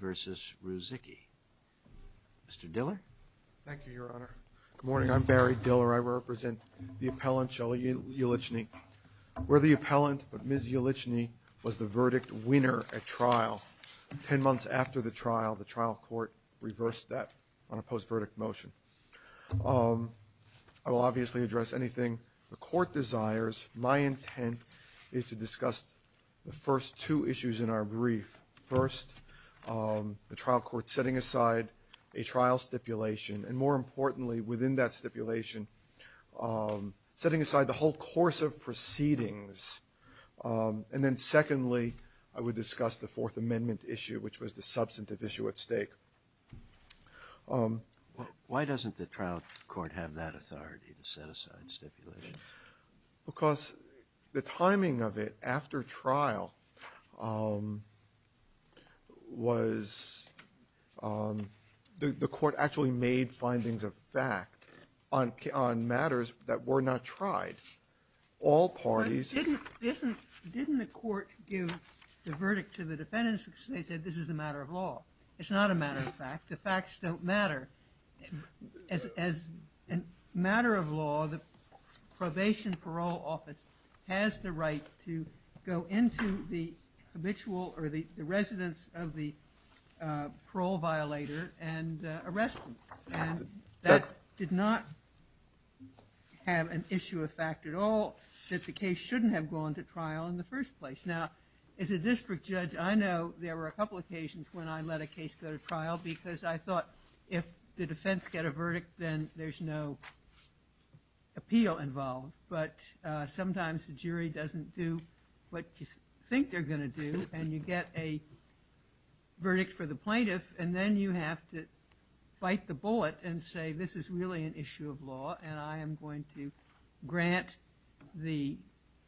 v. Ruzickie. Mr. Diller. Thank you, Your Honor. Good morning. I'm Barry Diller. I represent the appellant, Shelley Yelitchney. We're the appellant, but Ms. Yelitchney was the verdict winner at trial. Ten months after the trial, the trial court reversed that on a post-verdict motion. I will obviously address anything the court desires. My intent is to court setting aside a trial stipulation, and more importantly, within that stipulation, setting aside the whole course of proceedings. And then secondly, I would discuss the Fourth Amendment issue, which was the substantive issue at stake. Why doesn't the trial court have that authority to set aside stipulations? Because the timing of it after trial was – the court actually made findings of fact on matters that were not tried. All parties – But didn't the court give the verdict to the defendants because they said this is a matter of law? It's not a matter of fact. The facts don't matter. As a matter of law, the probation parole office has the right to go into the habitual or the residence of the parole violator and arrest them. And that did not have an issue of fact at all that the case shouldn't have gone to trial in the first place. Now, as a district judge, I know there were a couple occasions when I let a case go to trial, and there was an appeal involved. But sometimes the jury doesn't do what you think they're going to do, and you get a verdict for the plaintiff, and then you have to bite the bullet and say, this is really an issue of law, and I am going to grant the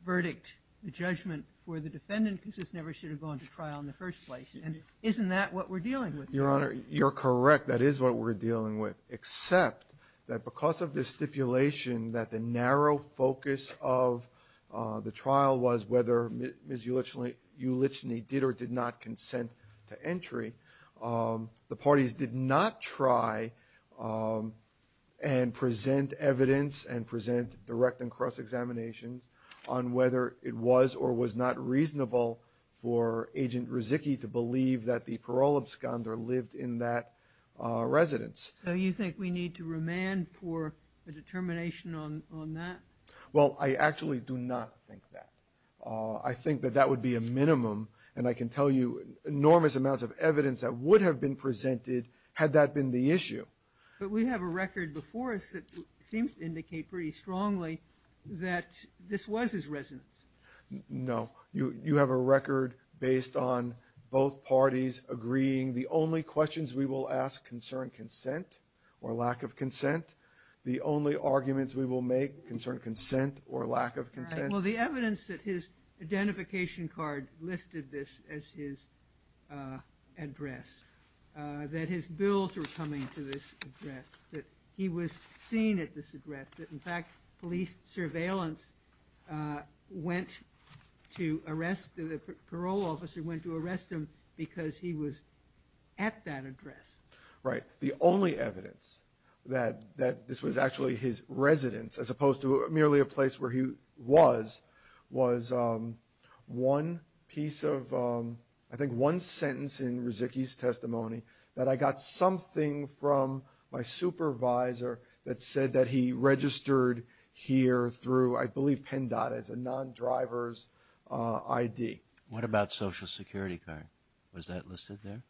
verdict, the judgment, for the defendant because this never should have gone to trial in the first place. And isn't that what we're dealing with here? Your Honor, you're correct. That is what we're dealing with, except that because of this stipulation that the narrow focus of the trial was whether Ms. Uliczny did or did not consent to entry, the parties did not try and present evidence and present direct and cross-examinations on whether it was or was not reasonable for Agent Riziki to believe that the parole absconder lived in that residence. So you think we need to remand for a determination on that? Well, I actually do not think that. I think that that would be a minimum, and I can tell you enormous amounts of evidence that would have been presented had that been the issue. But we have a record before us that seems to indicate pretty strongly that this was his residence. No. You have a record based on both parties agreeing the only questions we will ask concern consent or lack of consent, the only arguments we will make concern consent or lack of consent. All right. Well, the evidence that his identification card listed this as his address, that his bills were coming to this address, that he was seen at this address, that in fact police surveillance went to arrest the parole officer, went to arrest him because he was at that address. Right. The only evidence that this was actually his residence as opposed to merely a place where he was, was one piece of, I think one sentence in Riziki's testimony that I got something from my supervisor that said that he registered here through, I believe, Penn DOT as a non-driver's ID. What about social security card? Was that listed there?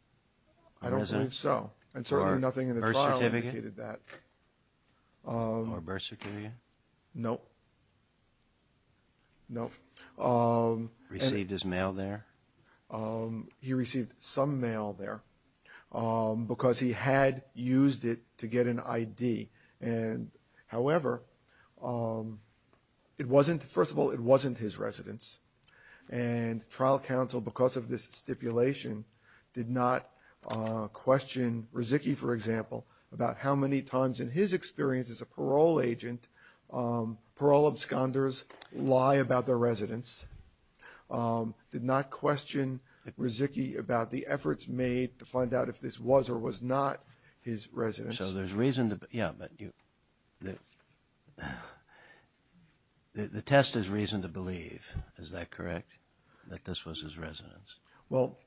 I don't think so. Or birth certificate? I don't think so. And certainly nothing in the trial indicated that. Or birth certificate? No. No. Received his mail there? No. He received some mail there because he had used it to get an ID. And however, it wasn't, first of all, it wasn't his residence. And trial counsel, because of this stipulation, did not question Riziki, for example, about how many times in his experience as a parole agent, parole absconders lie about their residence, did not question Riziki about the efforts made to find out if this was or was not his residence. So there's reason to, yeah, but the test is reason to believe, is that correct, that this was his residence?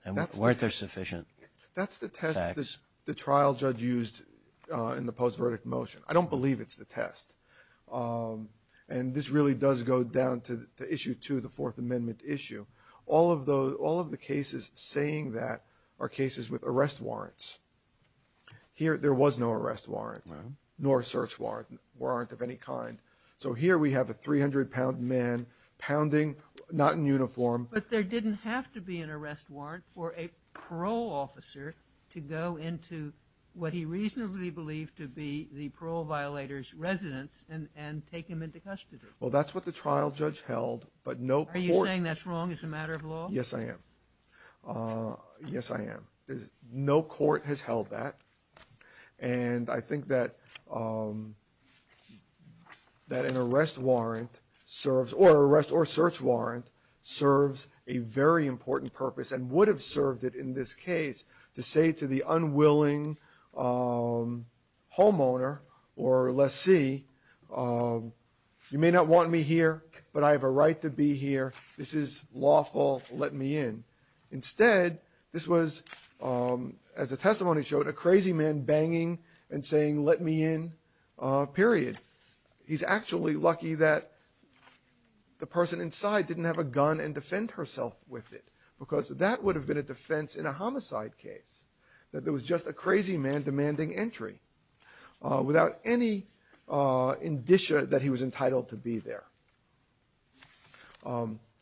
And weren't there sufficient facts? The trial judge used in the post-verdict motion. I don't believe it's the test. And this really does go down to issue two, the Fourth Amendment issue. All of the cases saying that are cases with arrest warrants. Here, there was no arrest warrant, nor search warrant of any kind. So here we have a 300-pound man pounding, not in uniform. But there didn't have to be an arrest warrant for a parole officer to go into what he reasonably believed to be the parole violator's residence and take him into custody. Well, that's what the trial judge held, but no court. Are you saying that's wrong as a matter of law? Yes, I am. Yes, I am. No court has held that. And I think that an arrest warrant serves or a search warrant serves a very important purpose and would have served it in this case to say to the unwilling homeowner or lessee, you may not want me here, but I have a right to be here. This is lawful. Let me in. Instead, this was, as the testimony showed, a crazy man banging and saying, let me in, period. He's actually lucky that the person inside didn't have a gun and defend herself with it because that would have been a defense in a homicide case, that there was just a crazy man demanding entry without any indicia that he was entitled to be there.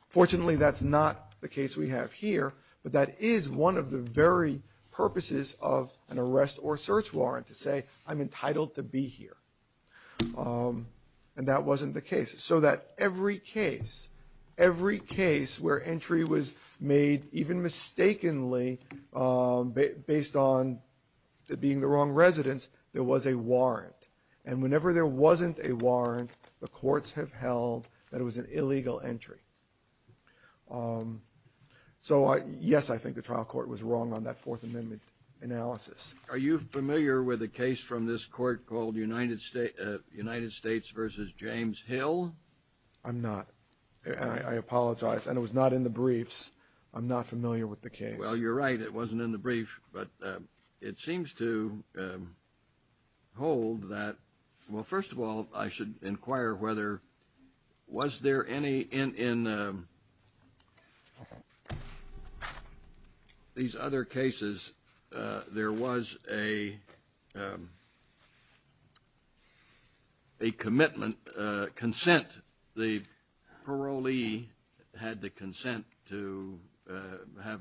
Fortunately, that's not the case we have here, but that is one of the very purposes of an arrest or search warrant, to say I'm entitled to be here. And that wasn't the case. So that every case, every case where entry was made even mistakenly based on it being the wrong residence, there was a warrant. And whenever there wasn't a warrant, the courts have held that it was an illegal entry. So, yes, I think the trial court was wrong on that Fourth Amendment analysis. Are you familiar with a case from this court called United States v. James Hill? I'm not. I apologize. And it was not in the briefs. I'm not familiar with the case. Well, you're right. It wasn't in the brief. But it seems to hold that – well, first of all, I should inquire whether – was there any – in these other cases, there was a commitment, consent. The parolee had the consent to have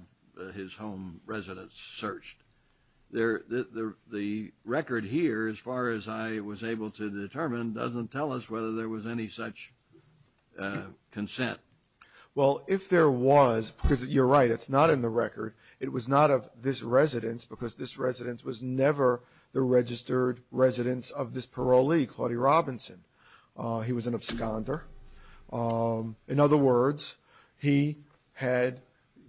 his home residence searched. The record here, as far as I was able to determine, doesn't tell us whether there was any such consent. Well, if there was – because you're right, it's not in the record. It was not of this residence, was never the registered residence of this parolee, Claudia Robinson. He was an absconder. In other words, he had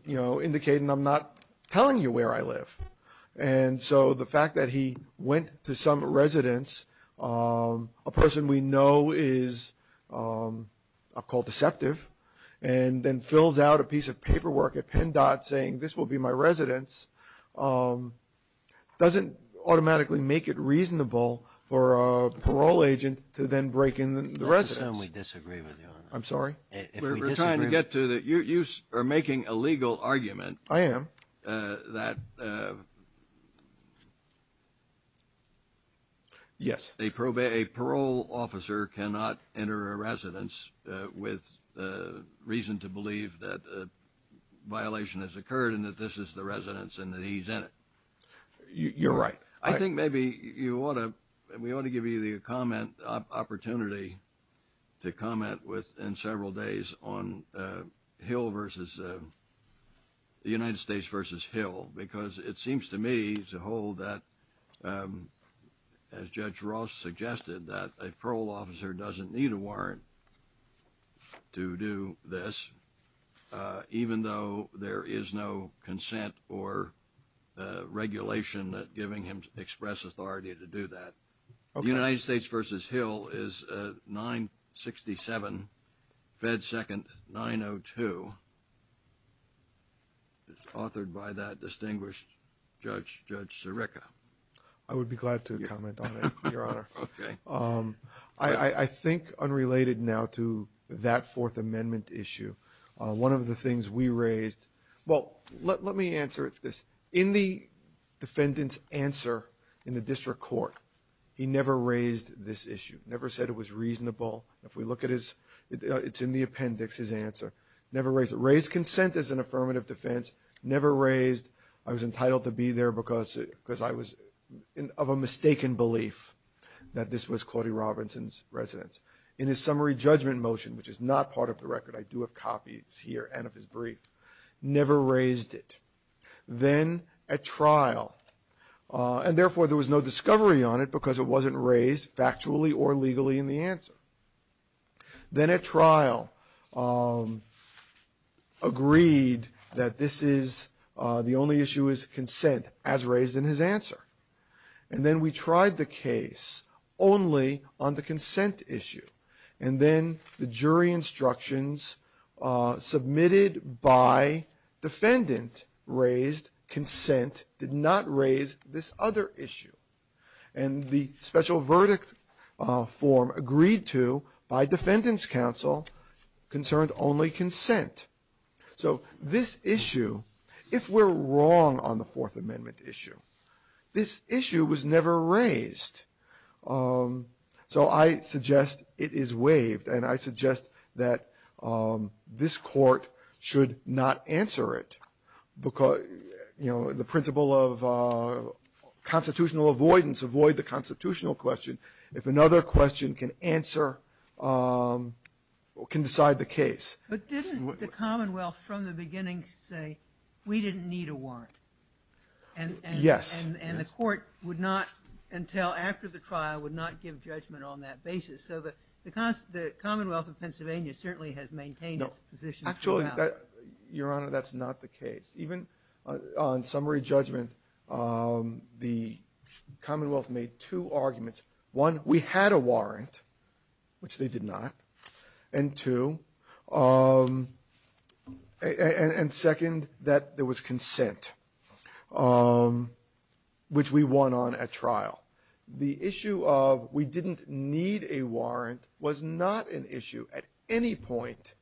indicated, I'm not telling you where I live. And so the fact that he went to some residence, a person we know is called deceptive, and then doesn't automatically make it reasonable for a parole agent to then break in the residence. That's a term we disagree with, Your Honor. I'm sorry? If we disagree with it. We're trying to get to the – you are making a legal argument. I am. That – Yes. A parole officer cannot enter a residence with reason to believe that a violation has been committed. You're right. I think maybe you ought to – we ought to give you the comment – opportunity to comment within several days on Hill versus – the United States versus Hill, because it seems to me as a whole that, as Judge Ross suggested, that a parole officer doesn't need a warrant to do this, even though there is no consent or regulation giving him express authority to do that. Okay. The United States versus Hill is 967 Fed 2nd 902. It's authored by that distinguished Judge Sirica. I would be glad to comment on it, Your Honor. Okay. I think unrelated now to that Fourth Amendment issue, one of the things we raised – well, let me answer this. In the defendant's answer in the district court, he never raised this issue, never said it was reasonable. If we look at his – it's in the appendix, his answer. Never raised it. Raised consent as an affirmative defense. Never raised I was entitled to be there because I was of a mistaken belief that this was Claudia Robinson's residence. In his summary judgment motion, which is not part of the record – I do have copies here and of his brief – never raised it. Then at trial – and therefore there was no discovery on it because it wasn't raised factually or legally in the answer. Then at trial, agreed that this is – the only issue is consent, as raised in his answer. And then we tried the case only on the consent issue. And then the jury instructions submitted by defendant raised consent, did not raise this other issue. And the special verdict form agreed to by defendant's counsel concerned only consent. So this issue, if we're wrong on the Fourth Amendment issue, this issue was never raised. So I suggest it is waived. And I suggest that this Court should not answer it because, you know, the principle of constitutional avoidance, avoid the constitutional question. If another question can answer – can decide the case. But didn't the Commonwealth from the beginning say, we didn't need a warrant? And the Court would not, until after the trial, would not give judgment on that basis. So the Commonwealth of Pennsylvania certainly has maintained its position at trial. No, actually, Your Honor, that's not the case. Even on summary judgment, the Commonwealth made two arguments. One, we had a warrant, which they did not. And two, and second, that there was consent, which we won on at trial. The issue of, we didn't need a warrant, was not an issue at any point,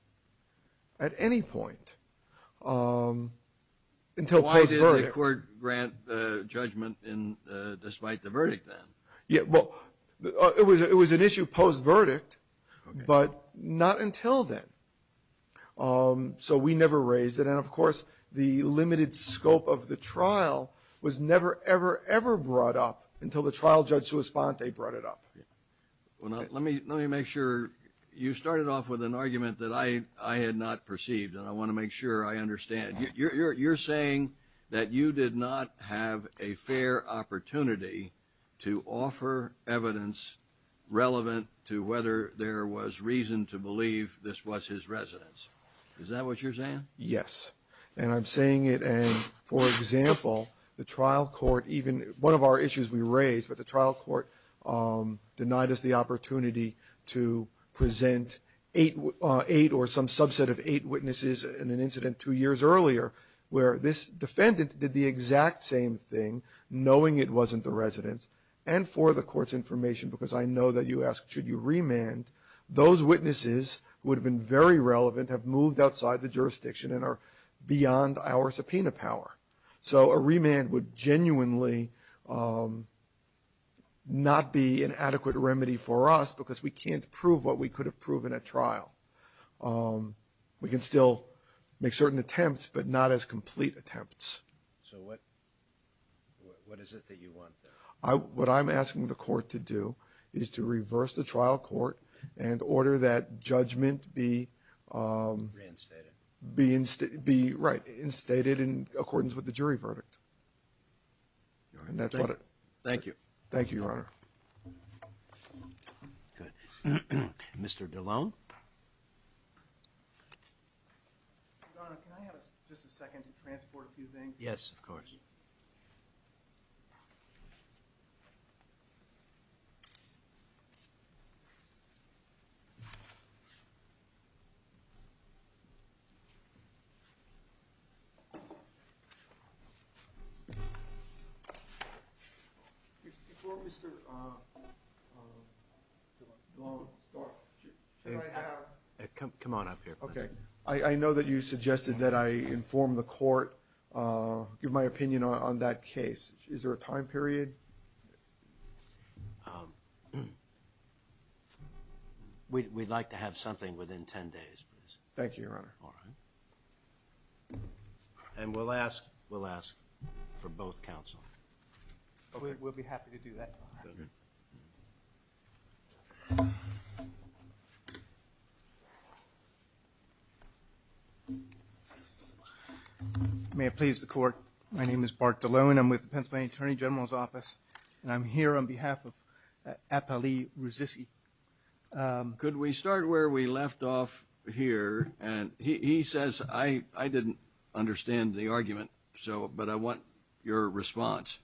at any point, until case verdict. So why did the Court grant judgment despite the verdict then? Yeah, well, it was an issue post-verdict, but not until then. So we never raised it. And of course, the limited scope of the trial was never, ever, ever brought up until the trial judge sua sponte brought it up. Well, now, let me make sure – you started off with an argument that I had not perceived, and I want to make sure I understand. You're saying that you did not have a fair opportunity to offer evidence relevant to whether there was reason to believe this was his residence. Is that what you're saying? Yes. And I'm saying it, and, for example, the trial court even – one of our issues we raised, but the trial court denied us the opportunity to present eight or some subset of eight witnesses in an incident two years earlier where this defendant did the exact same thing, knowing it wasn't the residence. And for the Court's information, because I know that you asked should you remand, those witnesses would have been very relevant, have moved outside the jurisdiction, and are beyond our subpoena power. So a remand would genuinely not be an adequate remedy for us because we can't prove what we could have proven at trial. We can still make certain attempts, but not as complete attempts. So what is it that you want, then? What I'm asking the Court to do is to reverse the trial court and order that judgment be – Reinstated. Be – right, be reinstated in accordance with the jury verdict. And that's what it – Thank you. Thank you, Your Honor. Good. Mr. DeLone? Your Honor, can I have just a second to transport a few things? Yes, of course. Thank you. Before Mr. DeLone starts, should I have – Come on up here. Okay. I know that you suggested that I inform the Court, give my opinion on that case. Is there a time period? We'd like to have something within 10 days, please. Thank you, Your Honor. All right. And we'll ask – we'll ask for both counsel. We'll be happy to do that. Good. May it please the Court, my name is Bart DeLone. I'm with the Pennsylvania Attorney General's Office. And I'm here on behalf of Appali Ruzissi. Could we start where we left off here? And he says – I didn't understand the argument, so – but I want your response.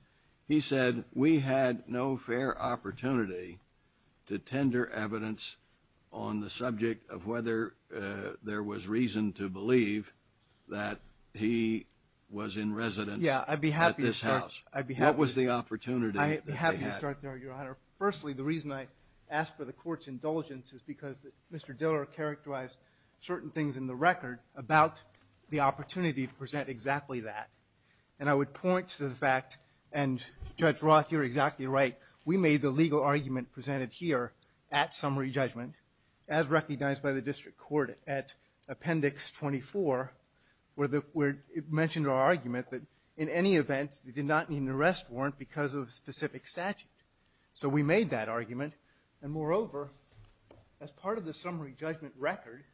He said, we had no fair opportunity to tender evidence on the subject of whether there was reason to believe that he was in residence at this house. Yeah, I'd be happy to start – What was the opportunity that they had? I'd be happy to start there, Your Honor. Firstly, the reason I asked for the Court's indulgence is because Mr. Diller characterized certain things in the record about the opportunity to present exactly that. And I would point to the fact – and Judge Roth, you're exactly right. We made the legal argument presented here at summary judgment, as recognized by the District Court at Appendix 24, where it mentioned our argument that in any event, they did not need an arrest warrant because of a specific statute. So we made that argument. And moreover, as part of the summary judgment record, –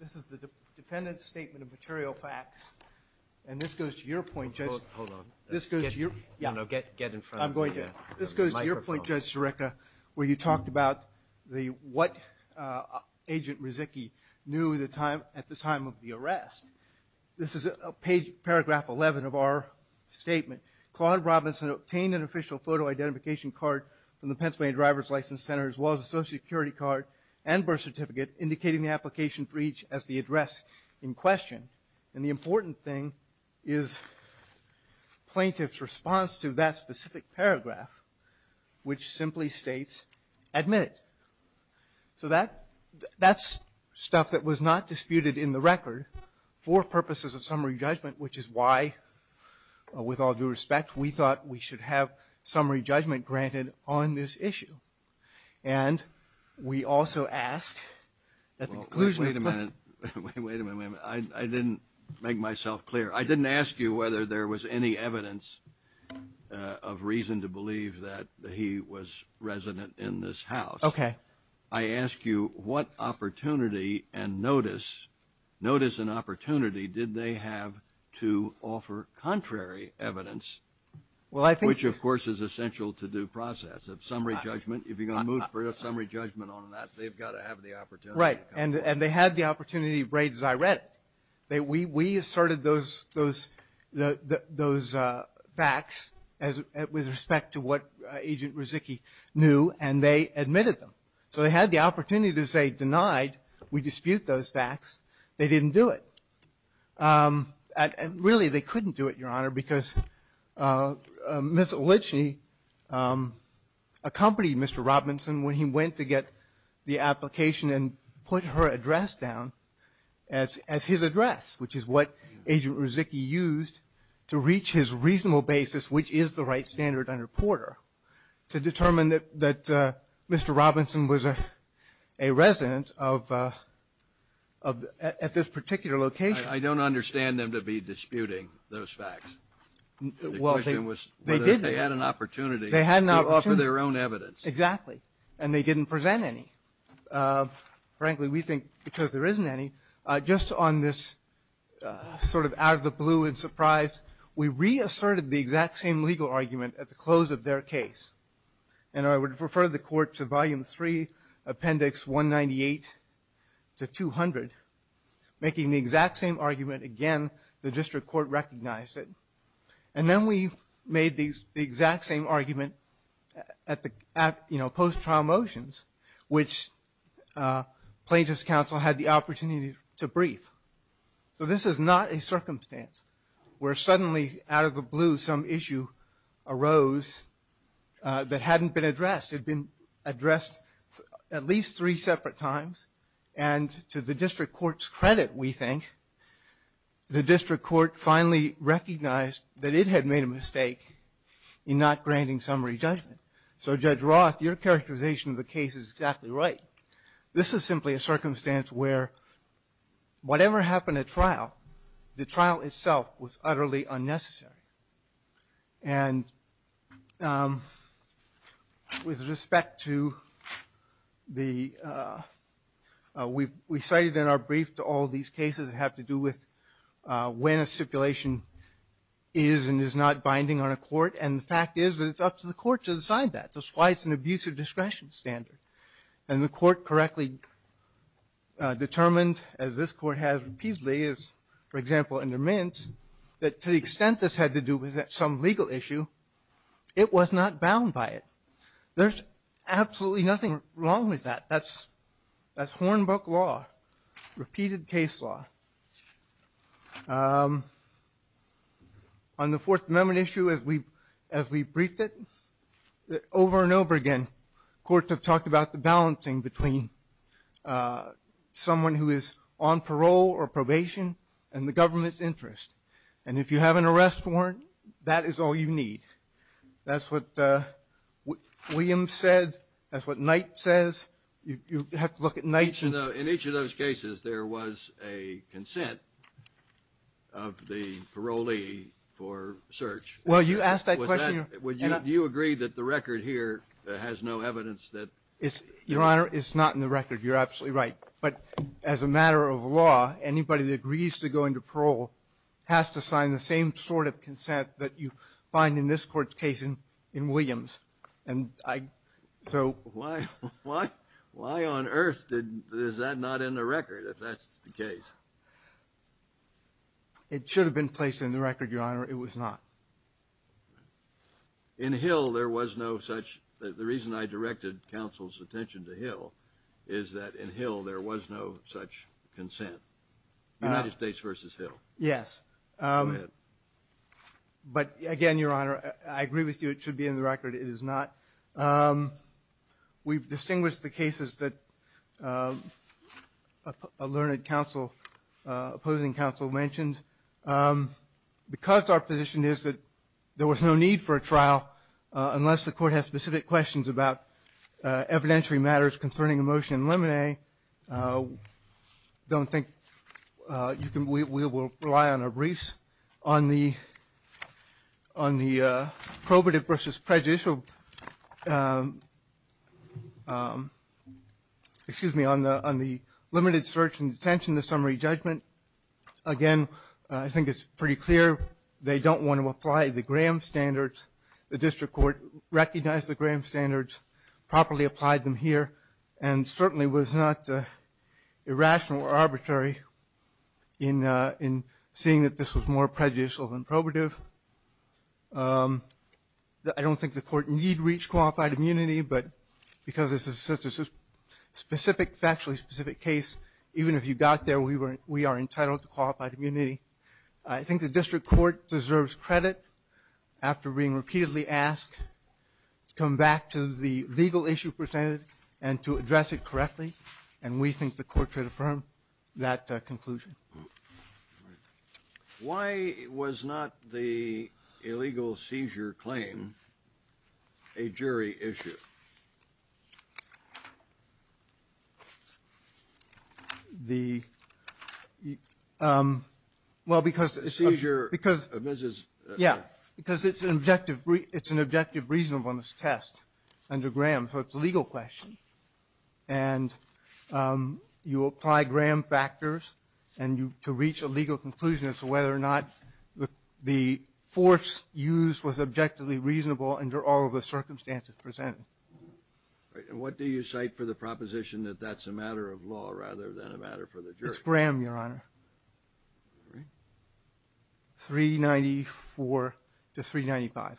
This is the defendant's statement of material facts. And this goes to your point, Judge – Hold on. This goes to your – No, no, get in front of the microphone. This goes to your point, Judge Scirecca, where you talked about what Agent Rizicchi knew at the time of the arrest. This is paragraph 11 of our statement. Claude Robinson obtained an official photo identification card from the Pennsylvania Driver's License Center as well as a Social Security card and birth certificate indicating the application for each as the address in question. And the important thing is plaintiff's response to that specific paragraph, which simply states, Admit it. So that's stuff that was not disputed in the record for purposes of summary judgment, which is why, with all due respect, we thought we should have summary judgment granted on this issue. And we also ask that the conclusion of the – Wait a minute. Wait a minute. I didn't make myself clear. I didn't ask you whether there was any evidence of reason to believe that he was resident in this house. Okay. I ask you what opportunity and notice – notice and opportunity did they have to offer contrary evidence? Well, I think – Which, of course, is essential to due process of summary judgment. If you're going to move for a summary judgment on that, they've got to have the opportunity. Right. And they had the opportunity, as I read it. We asserted those – those facts with respect to what Agent Ruzzicchi knew, and they admitted them. So they had the opportunity to say, Denied. We dispute those facts. They didn't do it. And really, they couldn't do it, Your Honor, because Ms. Olitschi accompanied Mr. Robinson when he went to get the application and put her address down as his address, which is what Agent Ruzzicchi used to reach his reasonable basis, which is the right standard under Porter, to determine that Mr. Robinson was a resident of – at this particular location. I don't understand them to be disputing those facts. The question was whether they had an opportunity to offer their own evidence. Exactly. And they didn't present any. Frankly, we think because there isn't any. Just on this sort of out of the blue and surprise, we reasserted the exact same legal argument at the close of their case. And I would refer the Court to Volume 3, Appendix 198 to 200, making the exact same argument again. The District Court recognized it. And then we made the exact same argument at the post-trial motions, which Plaintiffs' Council had the opportunity to brief. So this is not a circumstance where suddenly out of the blue some issue arose that hadn't been addressed. It had been addressed at least three separate times. And to the District Court's credit, we think, the District Court finally recognized that it had made a mistake in not granting summary judgment. So Judge Roth, your characterization of the case is exactly right. This is simply a circumstance where whatever happened at trial, the trial itself was utterly unnecessary. And with respect to the... We cited in our brief to all these cases that have to do with when a stipulation is and is not binding on a court. And the fact is that it's up to the court to decide that. That's why it's an abusive discretion standard. And the Court correctly determined, as this Court has repeatedly, as, for example, under Mint, that to the extent this had to do with some legal issue, it was not bound by it. There's absolutely nothing wrong with that. That's Hornbook law. Repeated case law. On the Fourth Amendment issue, as we briefed it, over and over again, courts have talked about the balancing between someone who is on parole or probation and the government's interest. And if you have an arrest warrant, that is all you need. That's what Williams said. That's what Knight says. You have to look at Knight's... In each of those cases, there was a consent of the parolee for search. Well, you asked that question... Do you agree that the record here has no evidence that... Your Honor, it's not in the record. You're absolutely right. But as a matter of law, anybody that agrees to go into parole has to sign the same sort of consent that you find in this Court's case in Williams. So... Why on earth is that not in the record if that's the case? It should have been placed in the record, Your Honor. It was not. In Hill, there was no such... The reason I directed is that in Hill, there was no such consent. United States v. Hill. Yes. But again, Your Honor, I agree with you, it should be in the record. It is not. We've distinguished the cases that a learned opposing counsel mentioned. Because our position is that there was no need for a trial unless the Court has specific questions about evidentiary matters concerning a motion in limine, I don't think we will rely on a briefs on the probative v. prejudicial excuse me, on the limited search and detention of summary judgment. Again, I think it's pretty clear they don't want to apply the Graham standards. The District Court recognized the Graham standards, properly applied them here, and certainly was not irrational or arbitrary in seeing that this was more prejudicial than probative. I don't think the Court need reach qualified immunity, but because this is such a specific, factually specific case, even if you got there we are entitled to qualified immunity. I think the District Court after being repeatedly asked to come back to the legal issue presented and to address it correctly. And we think the Court should affirm that conclusion. Why was not the illegal seizure claim a jury issue? The um, well because it's an objective reasonableness test under Graham, so it's a legal question. And you apply Graham factors and to reach a legal conclusion as to whether or not the force used was objectively reasonable under all the circumstances presented. And what do you cite for the proposition that that's a matter of law rather than a matter for the jury? It's Graham, Your Honor. 394 to 395.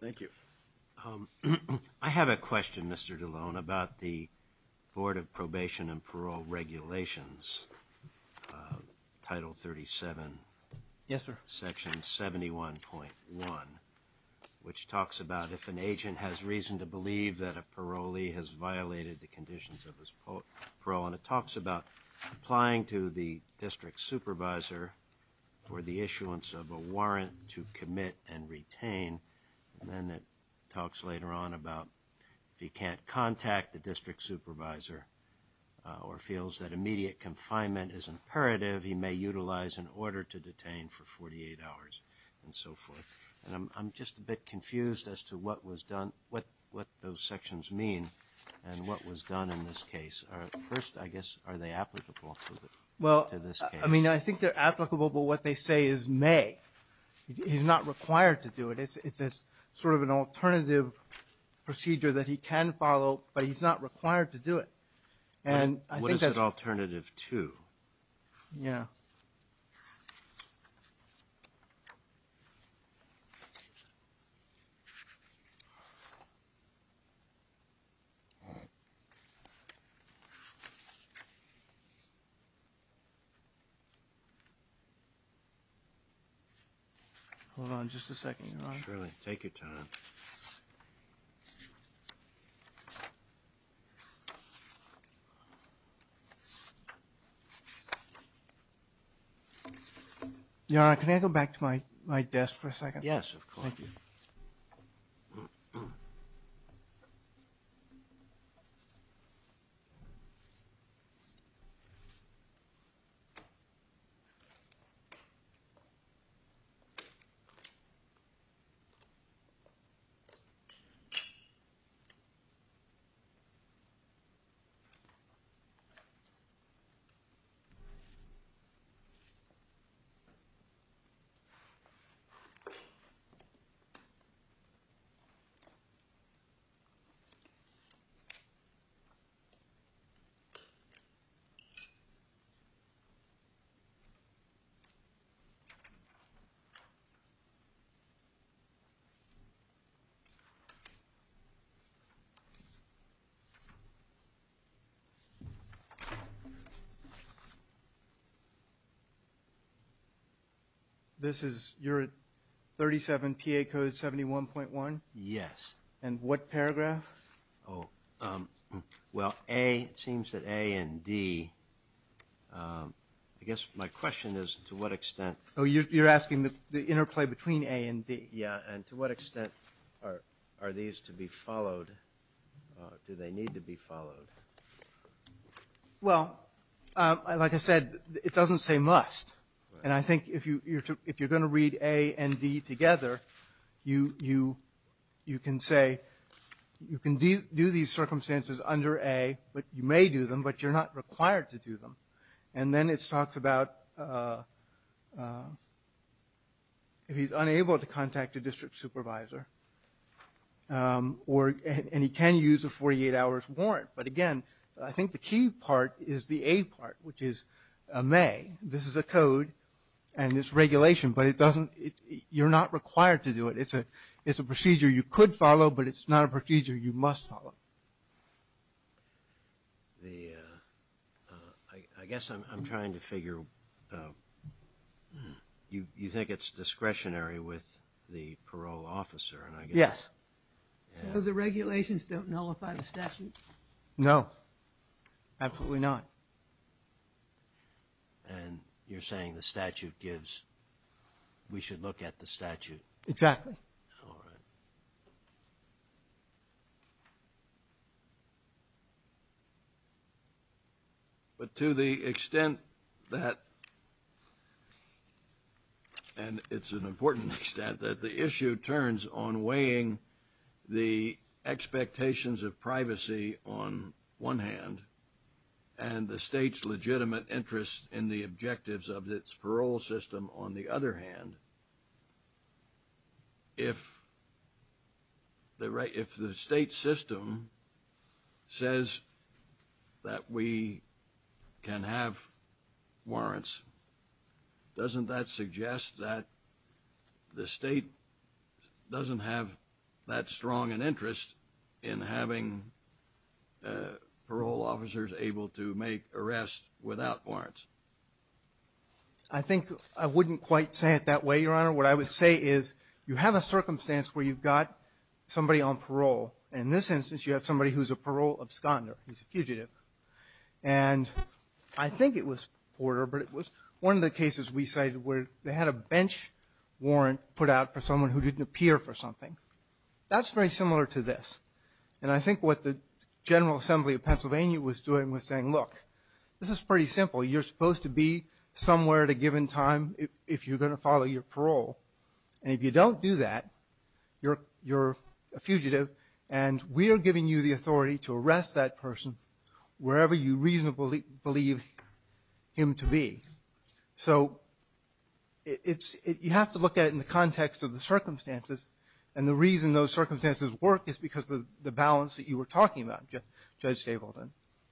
Thank you. I have a question, Mr. DeLone, about the Board of Probation and Parole Regulations Title 37 Section 71.1 which talks about if an agent has reason to believe that a parolee has violated the conditions of his parole, and it talks about applying to the District Supervisor for the issuance of a warrant to commit and retain, and then it talks later on about if he can't contact the District Supervisor or feels that immediate confinement is imperative he may utilize an order to detain for 48 hours and so forth. And I'm just a bit confused as to what was done what those sections mean and what was done in this case. First, I guess, are they applicable to this case? I mean, I think they're applicable, but what they say is may. He's not required to do it. It's sort of an alternative procedure that he can follow, but he's not required to do it. What is it alternative to? Yeah. Hold on just a second, Your Honor. Surely, take your time. Your Honor, can I go back to my desk for a second? Yes, of course. Okay.... This is your 37 PA Code 71.1? Yes. And what paragraph? Well, A it seems that A and D I guess my question is to what extent... Oh, you're asking the interplay between A and D? Yeah. And to what extent are these to be followed? Do they need to be followed? Well, like I said, it doesn't say must. And I think if you're going to read A and D together, you can say you can do these circumstances under A, but you may do them, but you're not required to do them. And then it talks about if he's unable to contact a district supervisor and he can use a 48 hours warrant, but again I think the key part is the A part, which is this is a code and it's regulation, but you're not required to do it. It's a procedure you could follow, but it's not a procedure you must follow. I guess I'm trying to figure you think it's discretionary with the parole officer? Yes. So the regulations don't nullify the statute? No. Absolutely not. And you're saying the statute gives we should look at the statute? Exactly. But to the extent that and it's an important extent that the issue turns on weighing the expectations of privacy on one hand, and the state's legitimate interest in the objectives of its parole system on the other hand, if the state system says that we can have warrants doesn't that suggest that the state doesn't have that strong an interest in having parole officers able to make arrests without warrants? I think I wouldn't quite say it that way, Your Honor. What I would say is you have a circumstance where you've got somebody on parole, and in this instance you have somebody who's a parole absconder. He's a fugitive. And I think it was Porter, but it was one of the cases we cited where they had a bench warrant put out for someone who didn't appear for something. That's very similar to this. And I think what the General Assembly of Pennsylvania was doing was saying, look, this is pretty simple. You're supposed to be somewhere at a given time if you're going to follow your parole. And if you don't do that, you're a fugitive, and we're giving you the authority to arrest that person wherever you reasonably believe him to be. So you have to look at it in the context of the circumstances, and the reason those circumstances work is because of the balance that you were talking about, Judge Stavelton,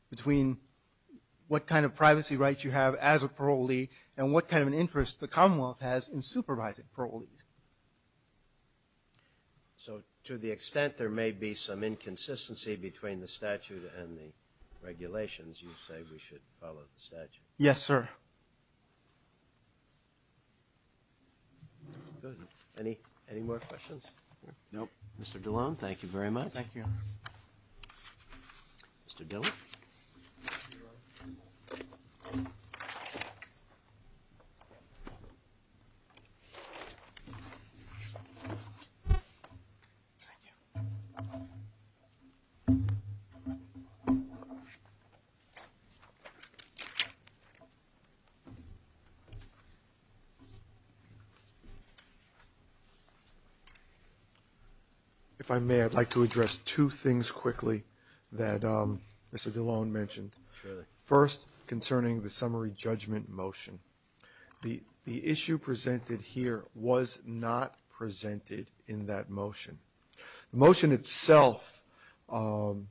between what kind of privacy rights you have as a parolee, and what kind of an interest the Commonwealth has in So to the extent there may be some inconsistency between the statute and the regulations, you say we should follow the statute? Yes, sir. Good. Any more questions? Nope. Mr. Dillon, thank you very much. Thank you. Mr. Dillon? Thank you. If I may, I'd like to address two things quickly that Mr. Dillon mentioned. First, concerning the summary judgment motion. The issue presented here was not presented in that motion. The motion itself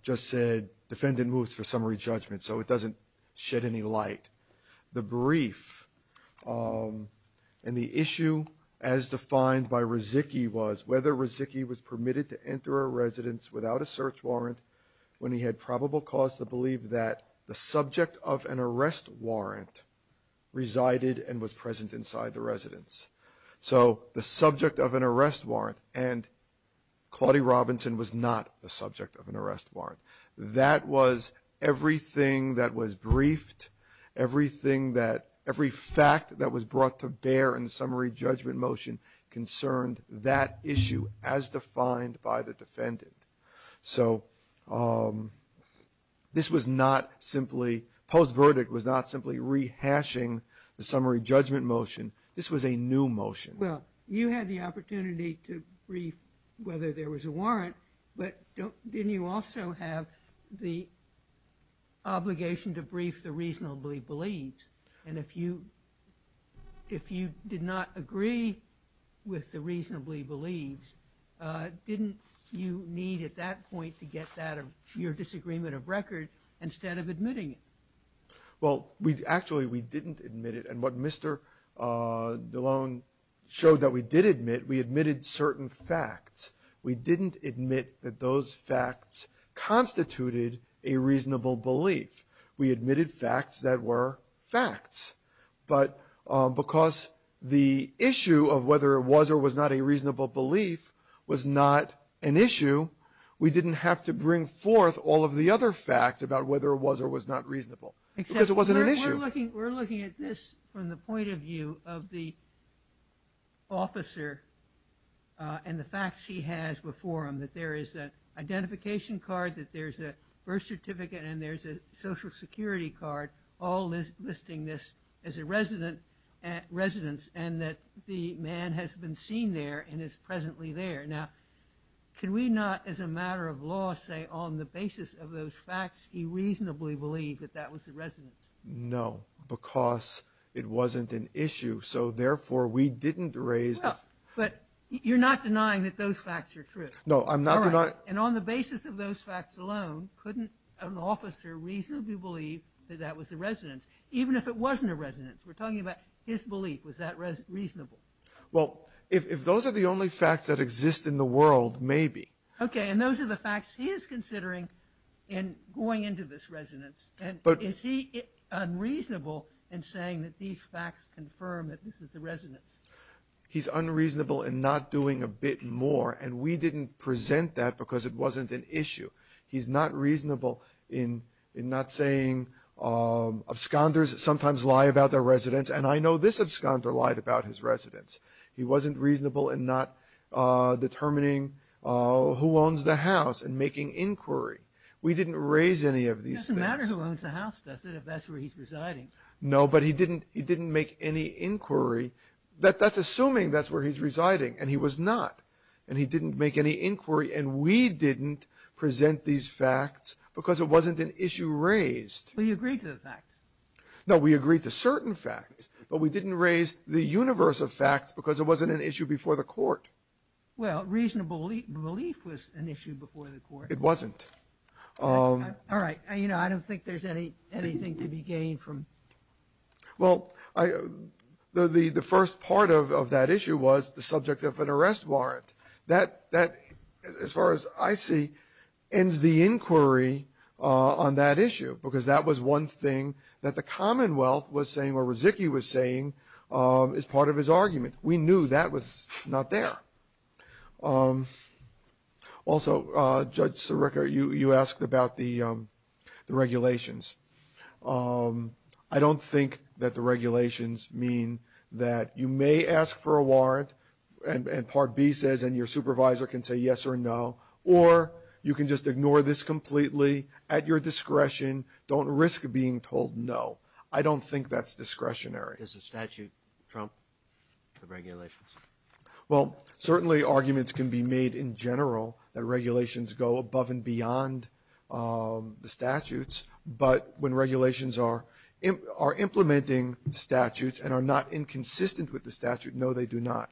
just said defendant moves for summary judgment, so it doesn't shed any light. The brief and the issue as defined by Rezicki was whether Rezicki was permitted to enter a residence without a search warrant when he had probable cause to believe that the subject of an arrest warrant resided and was so the subject of an arrest warrant and Claudie Robinson was not the subject of an arrest warrant. That was everything that was briefed, everything that every fact that was brought to bear in the summary judgment motion concerned that issue as defined by the defendant. So this was not simply post verdict was not simply rehashing the summary judgment motion. This was a new motion. Well, you had the opportunity to brief whether there was a warrant but didn't you also have the obligation to brief the reasonably believes and if you did not agree with the reasonably believes didn't you need at that point to get that of your disagreement of record instead of admitting it? Well, we actually we didn't admit it and what Mr. DeLone showed that we did admit, we admitted certain facts. We didn't admit that those facts constituted a reasonable belief. We admitted facts that were facts but because the issue of whether it was or was not a reasonable belief was not an issue, we didn't have to bring forth all of the other facts about whether it was or was not We're looking at this from the point of view of the officer and the facts he has before him that there is an identification card that there's a birth certificate and there's a social security card all listing this as a residence and that the man has been seen there and is presently there. Now can we not as a matter of law say on the basis of those facts he reasonably believed that that was a residence? No because it wasn't an issue so therefore we didn't raise... But you're not denying that those facts are true? No, I'm not denying... And on the basis of those facts alone, couldn't an officer reasonably believe that that was a residence even if it wasn't a residence? We're talking about his belief. Was that reasonable? Well, if those are the only facts that exist in the world, maybe. Okay, and those are the facts he is considering in going into this residence and is he unreasonable in saying that these facts confirm that this is the residence? He's unreasonable in not doing a bit more and we didn't present that because it wasn't an issue. He's not reasonable in not saying absconders sometimes lie about their residence and I know this absconder lied about his residence. He wasn't reasonable in not determining who was making inquiry. We didn't raise any of these things. It doesn't matter who owns the house does it if that's where he's residing? No, but he didn't make any inquiry. That's assuming that's where he's residing and he was not and he didn't make any inquiry and we didn't present these facts because it wasn't an issue raised. But you agreed to the facts? No, we agreed to certain facts but we didn't raise the universe of facts because it wasn't an issue before the court. Well, reasonable belief was an issue before the court. It wasn't. All right. You know, I don't think there's anything to be gained from Well, the first part of that issue was the subject of an arrest warrant. That, as far as I see, ends the inquiry on that issue because that was one thing that the Commonwealth was saying or was saying as part of his argument. We knew that was not there. Also, Judge Sirica, you asked about the regulations. I don't think that the regulations mean that you may ask for a warrant and Part B says and your supervisor can say yes or no or you can just ignore this completely at your discretion. Don't risk being told no. I don't think that's discretionary. Does the statute trump the regulations? Well, certainly arguments can be made in general that regulations go above and beyond the statutes, but when regulations are implementing statutes and are not inconsistent with the statute, no, they do not.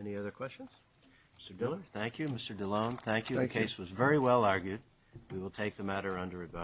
Any other questions? Mr. Diller, thank you. Mr. DeLone, thank you. The case was very well argued. We will take the matter under review.